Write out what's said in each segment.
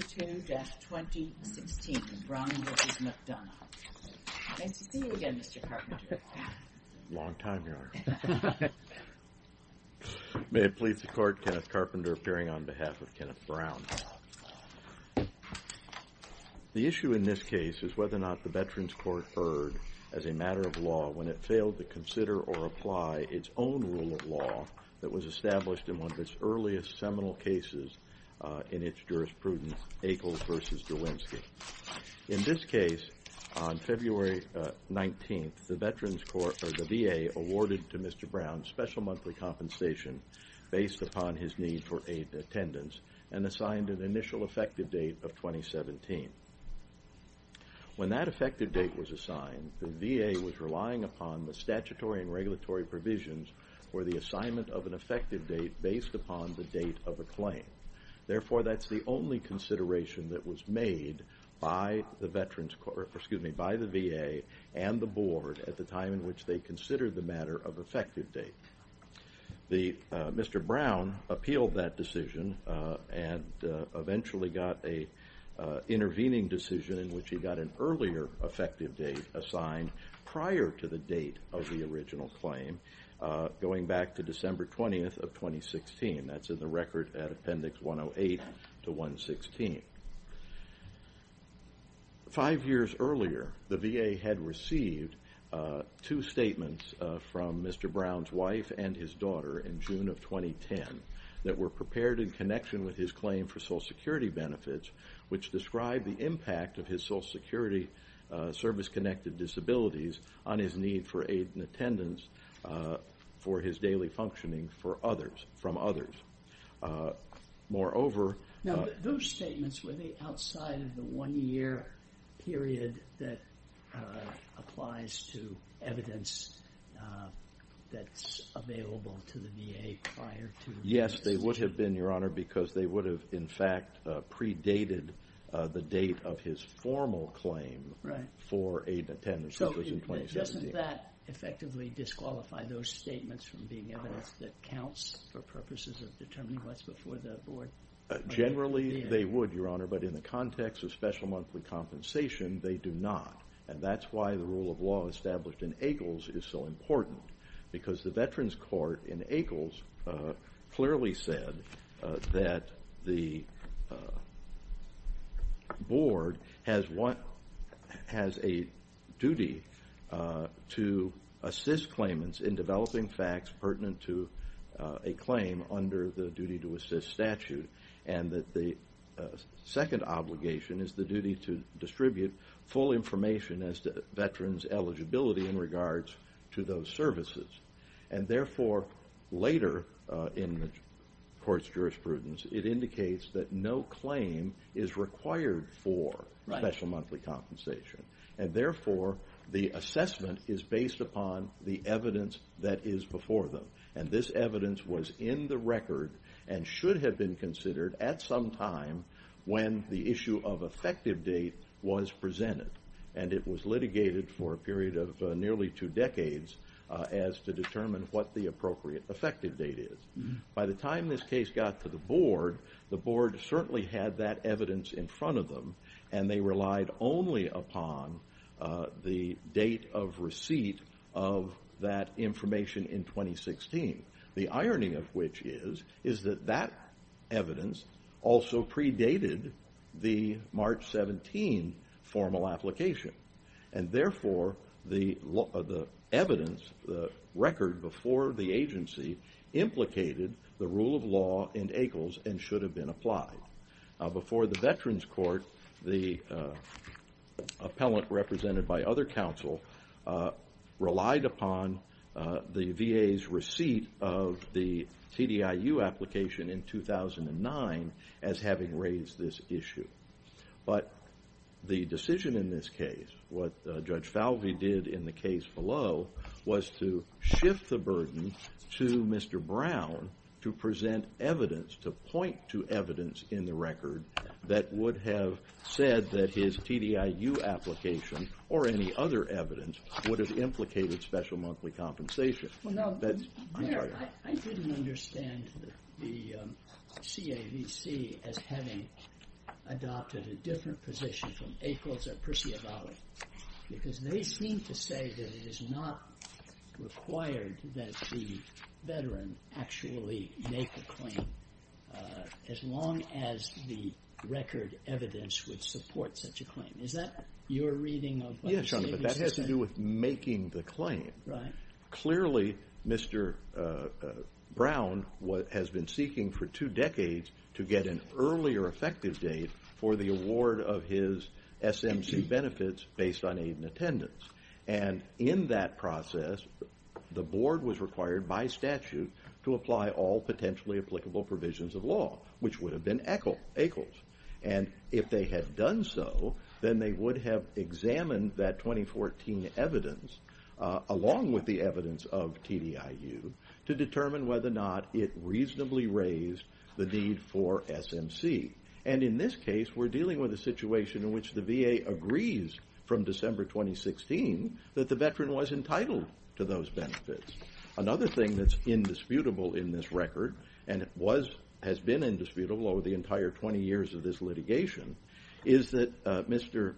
May it please the court, Kenneth Carpenter appearing on behalf of Kenneth Brown. The issue in this case is whether or not the Veterans Court heard as a matter of law when it failed to consider or apply its own rule of law that was established in one of its earliest seminal cases in its jurisprudence, Akles v. Derwinski. In this case, on February 19th, the VA awarded to Mr. Brown special monthly compensation based upon his need for aid and attendance and assigned an initial effective date of 2017. When that effective date was assigned, the VA was relying upon the statutory and regulatory provisions for the assignment of an effective date based upon the date of the claim. Therefore, that is the only consideration that was made by the VA and the board at the time in which they considered the matter of effective date. Mr. Brown appealed that decision and eventually got an intervening decision in which he got an earlier effective date assigned prior to the date of the original claim going back to December 20th of 2016. That is in the record at Appendix 108 to 116. Five years earlier, the VA had received two statements from Mr. Brown's wife and his daughter in June of 2010 that were prepared in connection with his claim for Social Security benefits which described the impact of his Social Security service-connected disabilities on his need for aid and attendance for his daily functioning from others. Moreover- Now, those statements, were they outside of the one-year period that applies to evidence that's available to the VA prior to- Yes, they would have been, Your Honor, because they would have, in fact, predated the date of his formal claim for aid and attendance which was in 2017. So, doesn't that effectively disqualify those statements from being evidence that counts for purposes of determining what's before the board? Generally, they would, Your Honor, but in the context of special monthly compensation, they do not. And that's why the rule of law established in AGLES is so important because the Veterans Court in AGLES clearly said that the board has a duty to assist claimants in developing facts pertinent to a claim under the duty to assist statute and that the second obligation is the duty to distribute full information as to veterans' eligibility in regards to those services. And therefore, later in the court's jurisprudence, it indicates that no claim is required for special monthly compensation. And therefore, the assessment is based upon the evidence that is before them. And this evidence was in the record and should have been considered at some time when the issue of effective date was presented. And it was litigated for a few decades as to determine what the appropriate effective date is. By the time this case got to the board, the board certainly had that evidence in front of them and they relied only upon the date of receipt of that information in 2016. The irony of which is that that evidence also predated the March 17 formal application. And therefore, the evidence, the record before the agency, implicated the rule of law in AGLES and should have been applied. Before the Veterans Court, the appellant represented by other counsel relied upon the VA's receipt of the TDIU application in 2009 as having raised this issue. But the decision in this case, what Judge Falvey did in the case below, was to shift the burden to Mr. Brown to present evidence, to point to evidence in the record that would have said that his TDIU application or any other evidence would have implicated special monthly compensation. Well, now, I didn't understand the CAVC as having adopted a different position from ACLES or Percivali, because they seem to say that it is not required that the veteran actually make the claim as long as the record evidence would support such a claim. Is that your reading of what the CAVC said? Yes, Your Honor, but that has to do with making the claim. Clearly, Mr. Brown has been seeking for two decades to get an earlier effective date for the award of his SMC benefits based on aid and attendance. In that process, the board was required by statute to apply all potentially applicable provisions of law, which would have been ACLES. If they had done so, then they would have examined that 2014 evidence along with the evidence of TDIU to determine whether or not it reasonably raised the need for SMC. In this case, we're dealing with a situation in which the VA agrees from December 2016 that the veteran was entitled to those benefits. Another thing that's indisputable in this record, and has been indisputable over the entire 20 years of this litigation, is that Mr.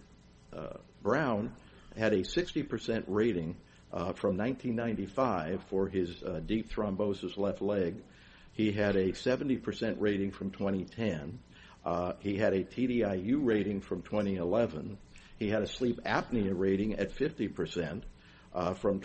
Brown had a 60% rating from 1995 for his TDIU rating from 2011. He had a sleep apnea rating at 50% from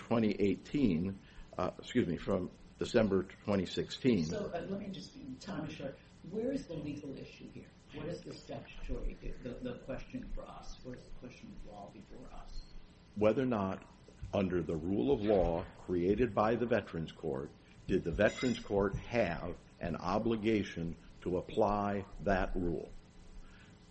December 2016. Let me just be time short. Where is the legal issue here? What is the statute, the question for us? What is the question of law before us? Whether or not under the rule of law created by the Veterans Court, did the Veterans Court have an obligation to apply that rule,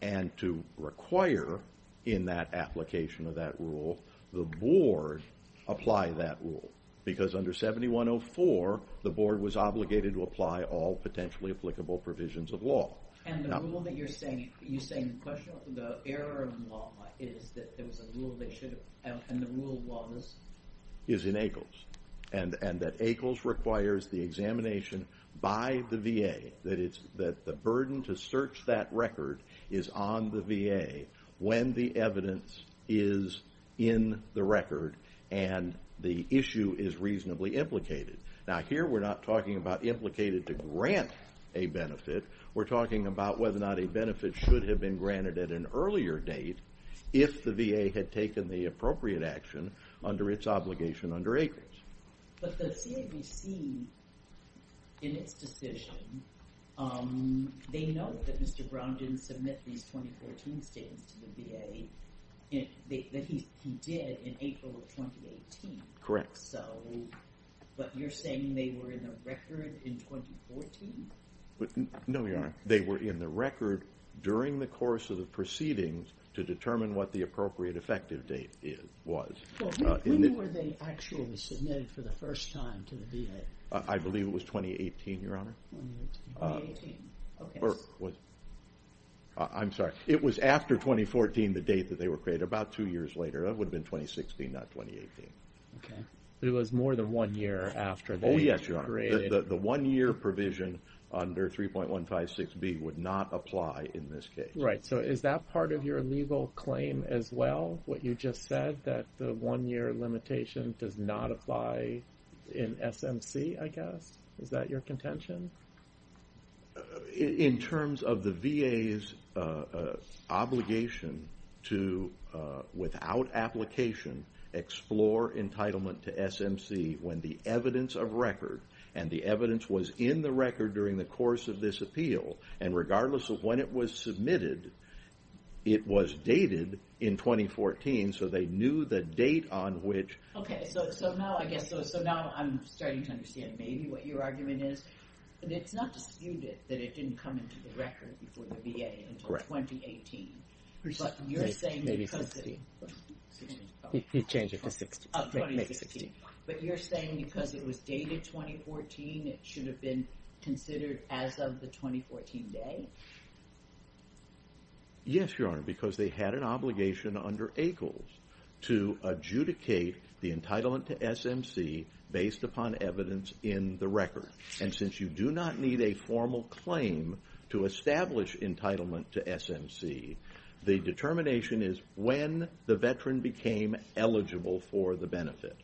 and to require in that application of that rule the board apply that rule? Because under 7104, the board was obligated to apply all potentially applicable provisions of law. The rule that you're saying, you're saying the error in the law is that there was a rule they should have, and the rule was? Is in ACLS, and that ACLS requires the examination by the VA, that the burden to search that record is on the VA when the evidence is in the record, and the issue is reasonably implicated. Now, here we're not talking about implicated to grant a benefit. We're talking about whether or not a benefit should have been granted at an earlier date, if the VA had taken the obligation under ACLS. But the CAVC, in its decision, they know that Mr. Brown didn't submit these 2014 statements to the VA, that he did in April of 2018. Correct. So, but you're saying they were in the record in 2014? No, Your Honor. They were in the record during the course of the proceedings to determine what the appropriate effective date was. When were they actually submitted for the first time to the VA? I believe it was 2018, Your Honor. 2018, okay. I'm sorry. It was after 2014, the date that they were created, about two years later. That would have been 2016, not 2018. Okay. It was more than one year after they were created. Oh, yes, Your Honor. The one-year provision under 3.156B would not apply in this case. Right. So, is that part of your legal claim as well? What you just said, that the one-year limitation does not apply in SMC, I guess? Is that your contention? In terms of the VA's obligation to, without application, explore entitlement to SMC when the evidence of record, and the evidence was in the record during the course of this appeal, and regardless of when it was submitted, it was dated in 2014, so they knew the date on which. Okay. So, now I'm starting to understand maybe what your argument is. It's not disputed that it didn't come into the record before the VA until 2018. Correct. But you're saying because it was dated 2014, it should have been considered as of the 2014 day? Yes, Your Honor, because they had an obligation under ACLES to adjudicate the entitlement to SMC based upon evidence in the record. And since you do not need a formal claim to establish entitlement to SMC, the determination is when the veteran became eligible for the benefit.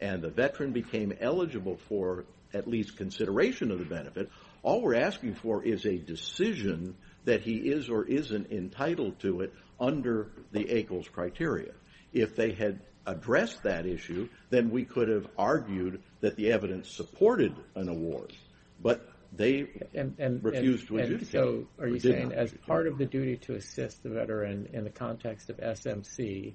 And the veteran became eligible for at least consideration of the benefit. All we're asking for is a decision that he is or isn't entitled to it under the ACLES criteria. If they had addressed that issue, then we could have argued that the evidence supported an award. But they refused to adjudicate. And so, are you saying as part of the duty to assist the veteran in the context of SMC,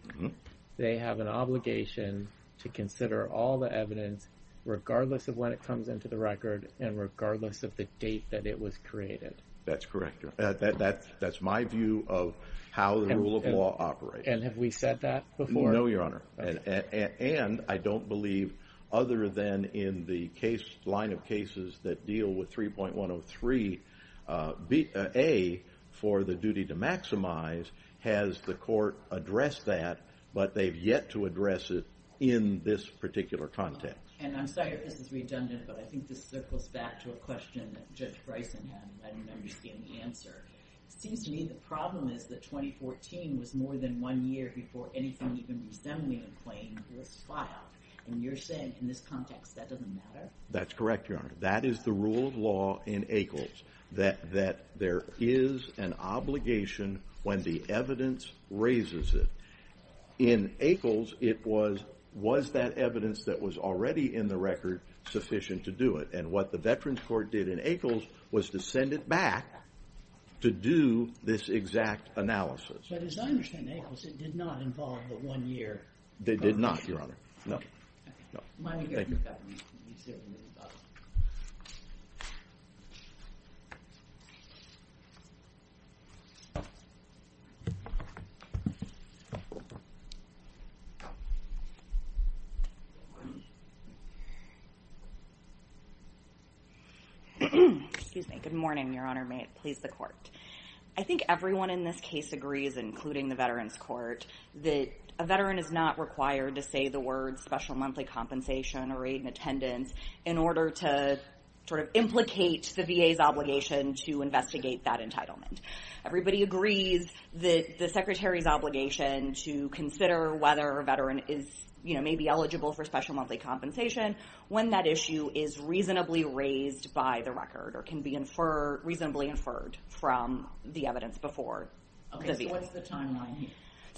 they have an obligation to consider all the evidence regardless of when it comes into the record and regardless of the date that it was created? That's correct. That's my view of how the rule of law operates. And have we said that before? No, Your Honor. And I don't believe other than in the line of cases that deal with 3.103a for the duty to maximize, has the court addressed that, but they've yet to address it in this particular context. And I'm sorry if this is redundant, but I think this circles back to a question that Judge Bryson had, and I didn't understand the answer. It seems to me the problem is that 2014 was more than one year before anything even resembling a claim was filed. And you're saying in this context that doesn't matter? That's correct, Your Honor. That is the rule of law in ACHELS, that there is an obligation when the evidence raises it. In ACHELS, it was, was that evidence that was already in the record sufficient to do it? And what the Veterans Court did in ACHELS was to send it back to do this exact analysis. But as I understand ACHELS, it did not involve the one year. It did not, Your Honor. No. Thank you. Excuse me. Good morning, Your Honor. May it please the court. I think everyone in this case agrees, including the Veterans Court, that a Veteran is not required to say the words special monthly compensation or aid in attendance in order to sort of implicate the VA's obligation to investigate that entitlement. Everybody agrees that the Secretary's obligation to consider whether a Veteran is, you know, may be eligible for special monthly compensation when that issue is reasonably raised by the record or can be reasonably inferred from the evidence before the VA.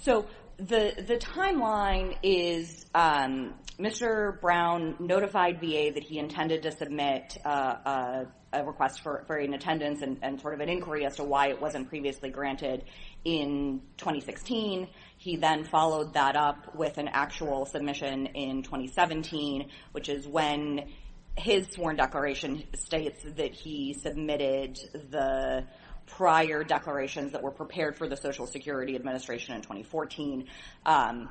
So the timeline is Mr. Brown notified VA that he intended to submit a request for an attendance and sort of an inquiry as to why it wasn't previously granted in 2016. He then followed that up with an actual submission in 2017, which is when his sworn declaration states that he submitted the prior declarations that were prepared for the Social Security Administration in 2014. The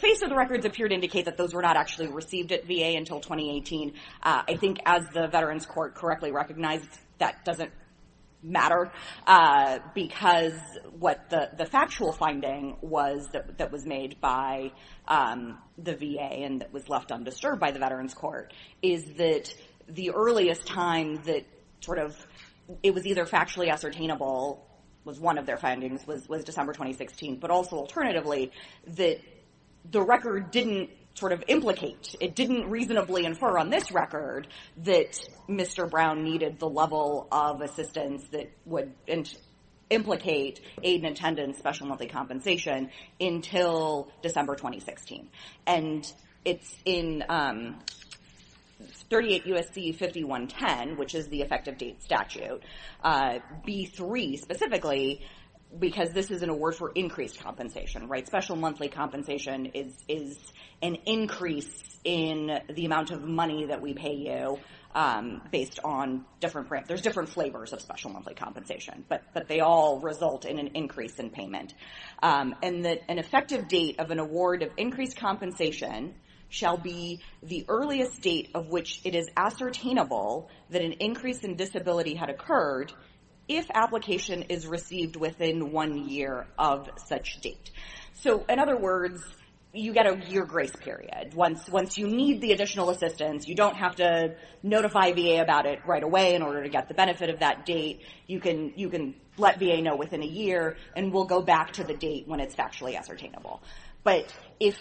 face of the records appear to indicate that those were not actually received at VA until 2018. I think as the Veterans Court correctly recognized, that doesn't matter because what the factual finding was that was made by the VA and that was left undisturbed by the Veterans Court is that the earliest time that sort of it was either factually ascertainable, was one of their findings, was December 2016, but also alternatively, that the record didn't sort of implicate, it didn't reasonably infer on this record that Mr. Brown needed the level of assistance that would implicate aid in attendance, special monthly compensation until December 2016. And it's in 38 U.S.C. 5110, which is the effective date statute, B-3 specifically because this is an award for increased compensation, right? Special monthly compensation is an increase in the amount of money that we pay you based on different, there's different flavors of special monthly compensation, and that an effective date of an award of increased compensation shall be the earliest date of which it is ascertainable that an increase in disability had occurred if application is received within one year of such date. So in other words, you get a year grace period. Once you need the additional assistance, you don't have to notify VA about it right away in order to get the benefit of that date. You can let VA know within a year, and we'll go back to the date when it's factually ascertainable. But if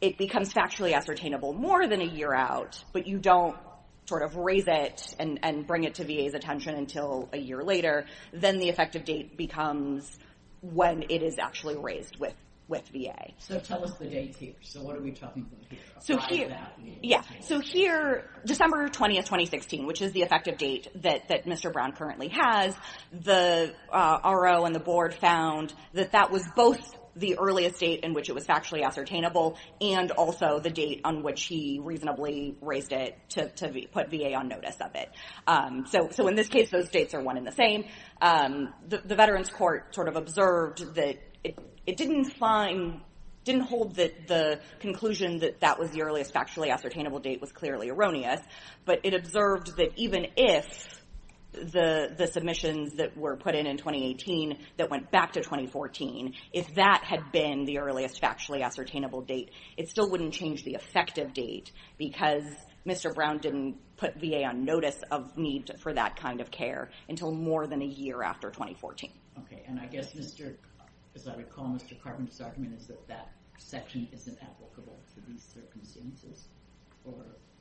it becomes factually ascertainable more than a year out, but you don't sort of raise it and bring it to VA's attention until a year later, then the effective date becomes when it is actually raised with VA. So tell us the date here. So what are we talking about here? So here, December 20, 2016, which is the effective date that Mr. Brown currently has, the RO and the board found that that was both the earliest date in which it was factually ascertainable and also the date on which he reasonably raised it to put VA on notice of it. So in this case, those dates are one and the same. The Veterans Court sort of observed that it didn't hold the conclusion that that was the earliest factually ascertainable date was clearly erroneous, but it observed that even if the submissions that were put in in 2018 that went back to 2014, if that had been the earliest factually ascertainable date, it still wouldn't change the effective date because Mr. Brown didn't put VA on notice of need for that kind of care until more than a year after 2014. Okay. And I guess, as I recall, Mr. Carpenter's argument is that that section isn't applicable to these circumstances?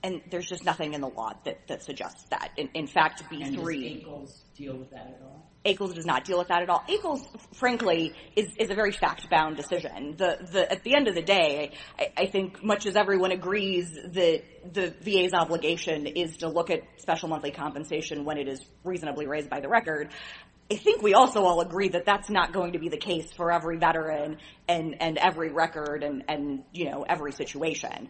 And there's just nothing in the law that suggests that. In fact, B-3... And does ACLS deal with that at all? ACLS does not deal with that at all. ACLS, frankly, is a very fact-bound decision. At the end of the day, I think much as everyone agrees that the VA's obligation is to look at special monthly compensation when it is reasonably raised by the record, I think we also all agree that that's not going to be the case for every veteran and every record and every situation.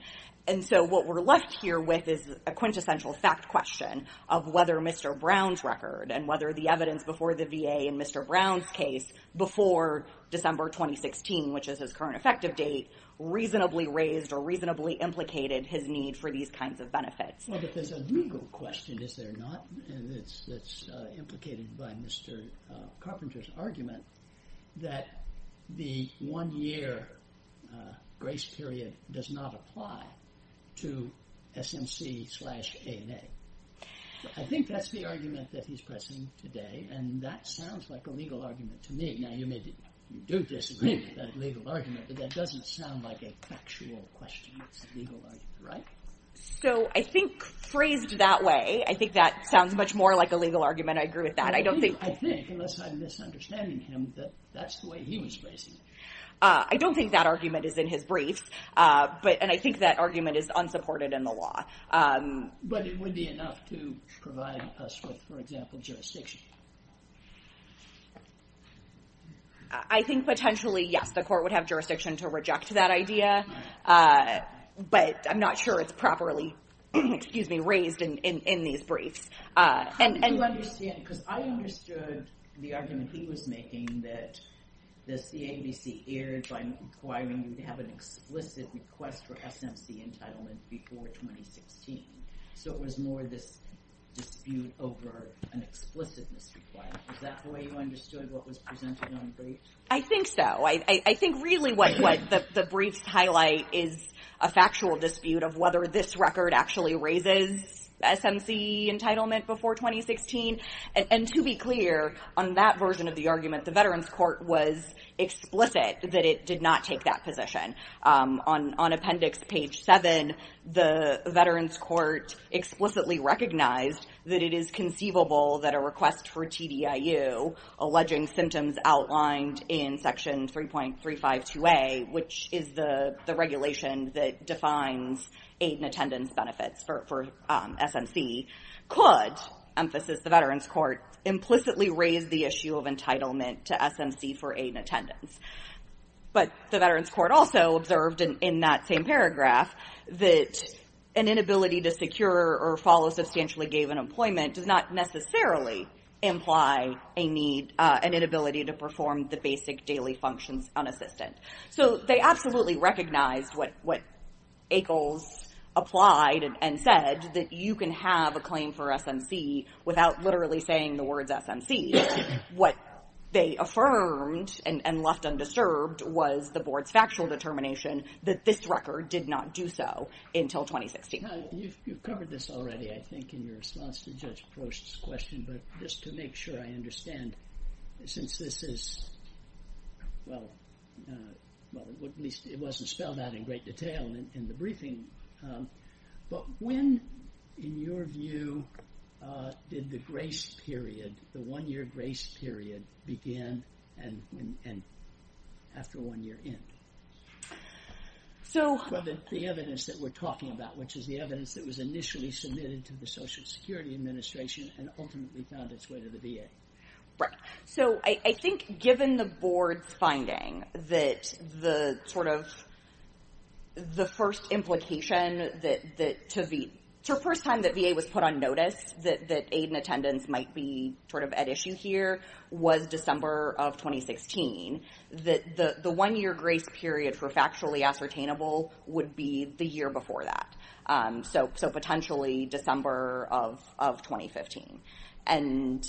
And so what we're left here with is a quintessential fact question of whether Mr. Brown's record and whether the evidence before the VA in Mr. Brown's case before December 2016, which is his current effective date, reasonably raised or reasonably implicated his need for these kinds of benefits. Well, but there's a legal question, is there not, that's implicated by Mr. Carpenter's argument that the one-year grace period does not apply to SMC slash ANA. I think that's the argument that he's pressing today, and that sounds like a legal argument to me. Now, you may do disagree with that legal argument, but that doesn't sound like a factual question. It's a legal argument, right? So I think phrased that way, I think that sounds much more like a legal argument. I agree with that. I think, unless I'm misunderstanding him, that that's the way he was phrasing it. I don't think that argument is in his briefs, and I think that argument is unsupported in the law. But it would be enough to provide us with, for example, jurisdiction. I think potentially, yes, the court would have jurisdiction to reject that idea, but I'm not sure it's properly raised in these briefs. I do understand, because I understood the argument he was making, that the CABC erred by requiring you to have an explicit request for SMC entitlement before 2016. So it was more this dispute over an explicit misrequirement. Is that the way you understood what was presented on the briefs? I think so. I think really what the briefs highlight is a factual dispute of whether this record actually raises SMC entitlement before 2016. And to be clear, on that version of the argument, the Veterans Court was explicit that it did not take that position. On appendix page seven, the Veterans Court explicitly recognized that it is conceivable that a request for TDIU, alleging symptoms outlined in section 3.352A, which is the regulation that defines aid and attendance benefits for SMC, could, emphasis the Veterans Court, implicitly raise the issue of entitlement to SMC for aid and attendance. But the Veterans Court also observed in that same paragraph that an inability to secure or follow substantially given employment does not necessarily imply a need, an inability to perform the basic daily functions unassisted. So they absolutely recognized what Akles applied and said, that you can have a claim for SMC without literally saying the words SMC. What they affirmed and left undisturbed was the Board's factual determination that this record did not do so until 2016. You've covered this already, I think, in your response to Judge Prost's question. But just to make sure I understand, since this is, well, at least it wasn't spelled out in great detail in the briefing. But when, in your view, did the grace period, the one-year grace period begin and after one year end? The evidence that we're talking about, which is the evidence that was initially submitted to the Social Security Administration and ultimately found its way to the VA. Right. So I think given the Board's finding that the first implication, the first time that VA was put on notice that aid and attendance might be at issue here was December of 2016. The one-year grace period for factually ascertainable would be the year before that. So potentially December of 2015. And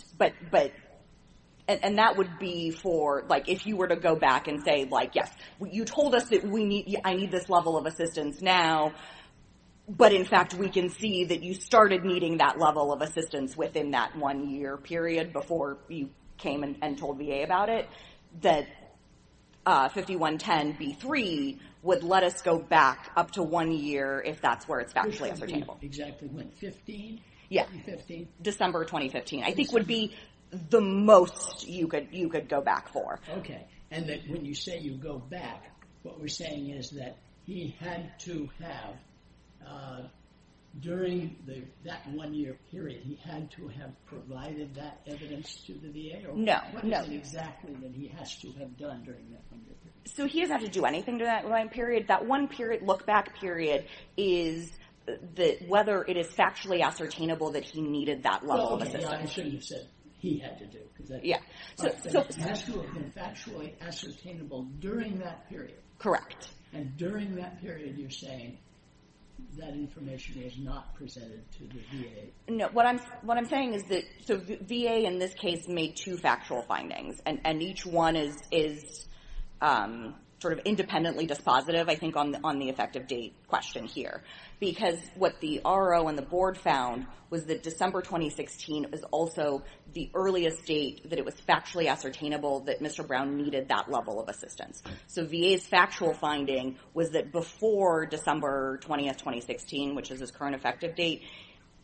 that would be for, like, if you were to go back and say, like, yes, you told us that I need this level of assistance now, but in fact we can see that you started needing that level of assistance within that one-year period before you came and told VA about it, that 5110B3 would let us go back up to one year if that's where it's factually ascertainable. Exactly when? 15? Yeah. 2015? December 2015. I think would be the most you could go back for. Okay. And that when you say you go back, what we're saying is that he had to have, during that one-year period, he had to have provided that evidence to the VA? No. What was it exactly that he has to have done during that one-year period? So he doesn't have to do anything during that one period. That one period, look-back period, is whether it is factually ascertainable that he needed that level of assistance. I shouldn't have said he had to do it. Yeah. So it has to have been factually ascertainable during that period. Correct. And during that period you're saying that information is not presented to the VA? No. What I'm saying is that the VA in this case made two factual findings, and each one is sort of independently dispositive. I think on the effective date question here. Because what the RO and the Board found was that December 2016 was also the earliest date that it was factually ascertainable that Mr. Brown needed that level of assistance. So VA's factual finding was that before December 20, 2016, which is his current effective date,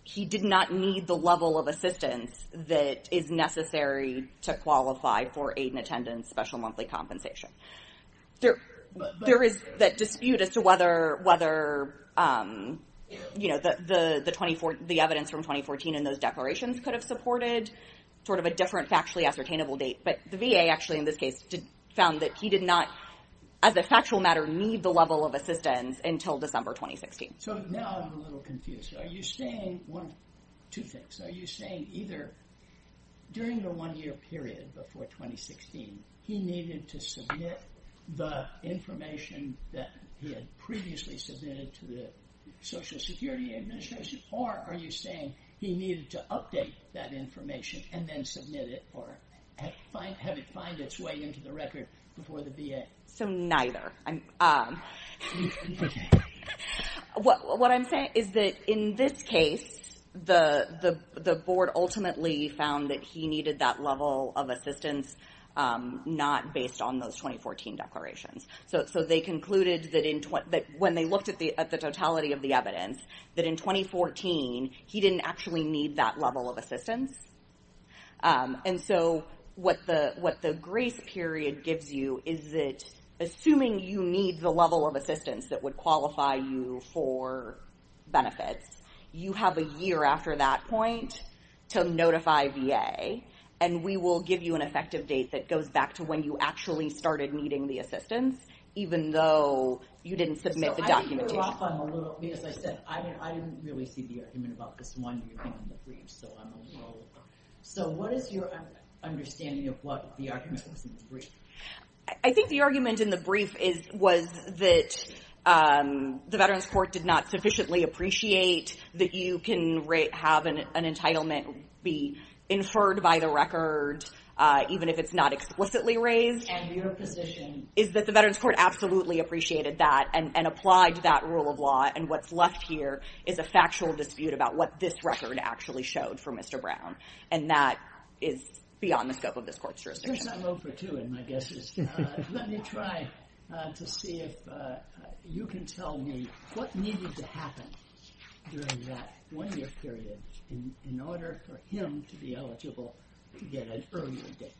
he did not need the level of assistance that is necessary to qualify for aid and attendance, special monthly compensation. There is that dispute as to whether the evidence from 2014 and those declarations could have supported sort of a different factually ascertainable date. But the VA actually in this case found that he did not, as a factual matter, need the level of assistance until December 2016. So now I'm a little confused. Are you saying one of two things. Are you saying either during the one-year period before 2016 he needed to submit the information that he had previously submitted to the Social Security Administration, or are you saying he needed to update that information and then submit it or have it find its way into the record before the VA? So neither. What I'm saying is that in this case, the Board ultimately found that he needed that level of assistance not based on those 2014 declarations. So they concluded that when they looked at the totality of the evidence, that in 2014 he didn't actually need that level of assistance. And so what the grace period gives you is that assuming you need the level of assistance that would qualify you for benefits, you have a year after that point to notify VA, and we will give you an effective date that goes back to when you actually started needing the assistance even though you didn't submit the documentation. I didn't really see the argument about this one year in the brief. So what is your understanding of what the argument was in the brief? I think the argument in the brief was that the Veterans Court did not sufficiently appreciate that you can have an entitlement be inferred by the record even if it's not explicitly raised. And your position? Is that the Veterans Court absolutely appreciated that and applied to that rule of law, and what's left here is a factual dispute about what this record actually showed for Mr. Brown, and that is beyond the scope of this court's jurisdiction. I vote for two in my guesses. Let me try to see if you can tell me what needed to happen during that one-year period in order for him to be eligible to get an earlier date.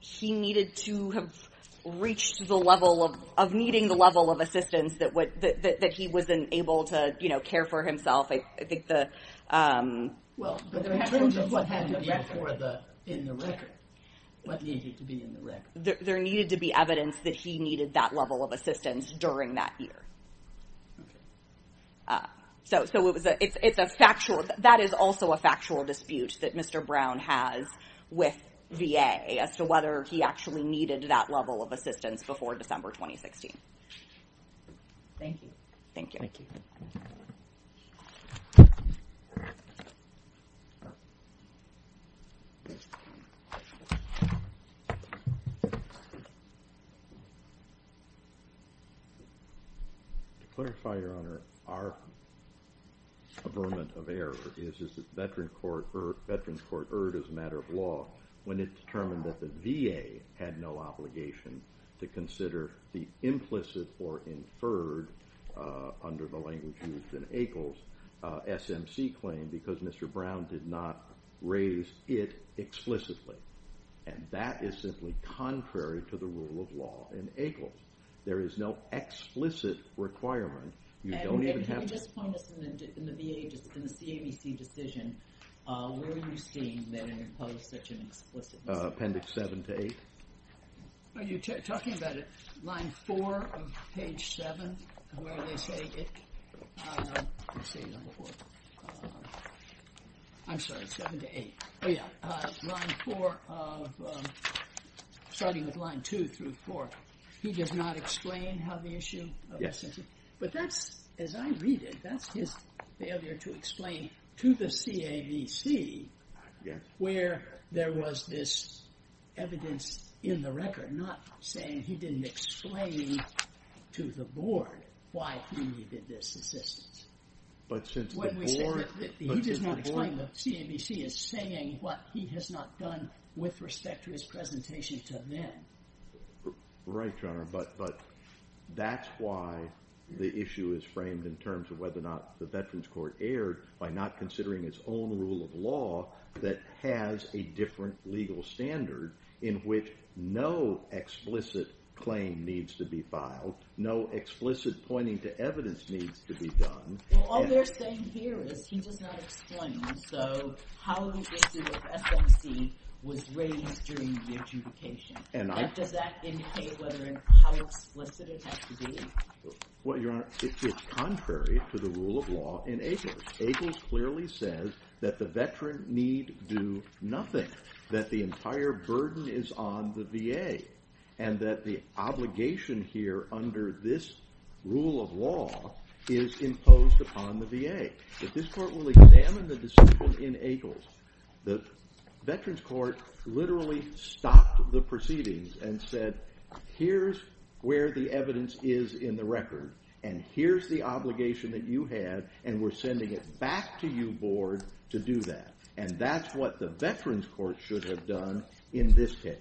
He needed to have reached the level of needing the level of assistance that he was able to care for himself. I think the... Well, in terms of what had to be in the record, what needed to be in the record. There needed to be evidence that he needed that level of assistance during that year. So it's a factual... That is also a factual dispute that Mr. Brown has with VA as to whether he actually needed that level of assistance before December 2016. Thank you. Thank you. To clarify, Your Honor, our averment of error is that the Veterans Court erred as a matter of law when it determined that the VA had no obligation to consider the implicit or inferred, under the language used in Akles, SMC claim because Mr. Brown did not raise it explicitly, and that is simply contrary to the rule of law in Akles. There is no explicit requirement. You don't even have to... And can you just point us in the VA, just in the CABC decision, where are you seeing that it imposed such an explicitness? Appendix 7 to 8. Are you talking about line 4 of page 7, where they say it... I'm sorry, 7 to 8. Oh, yeah. Line 4, starting with line 2 through 4. He does not explain how the issue... But that's, as I read it, that's his failure to explain to the CABC where there was this evidence in the record, not saying he didn't explain to the board why he needed this assistance. But since the board... He does not explain, the CABC is saying what he has not done with respect to his presentation to them. Right, Your Honor, but that's why the issue is framed in terms of whether or not the Veterans Court erred by not considering its own rule of law that has a different legal standard in which no explicit claim needs to be filed, no explicit pointing to evidence needs to be done. Well, all they're saying here is he does not explain, so how the issue of SMC was raised during the adjudication. Does that indicate how explicit it has to be? Well, Your Honor, it's contrary to the rule of law in Akles. Akles clearly says that the veteran need do nothing, that the entire burden is on the VA, and that the obligation here under this rule of law is imposed upon the VA. If this court will examine the decision in Akles, the Veterans Court literally stopped the proceedings and said, here's where the evidence is in the record, and here's the obligation that you have, and we're sending it back to you, board, to do that. And that's what the Veterans Court should have done in this case,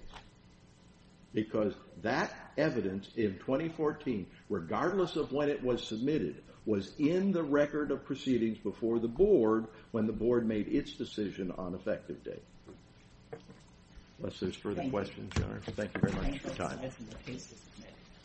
because that evidence in 2014, regardless of when it was submitted, was in the record of proceedings before the board when the board made its decision on effective date. Unless there's further questions, Your Honor. Thank you very much for your time.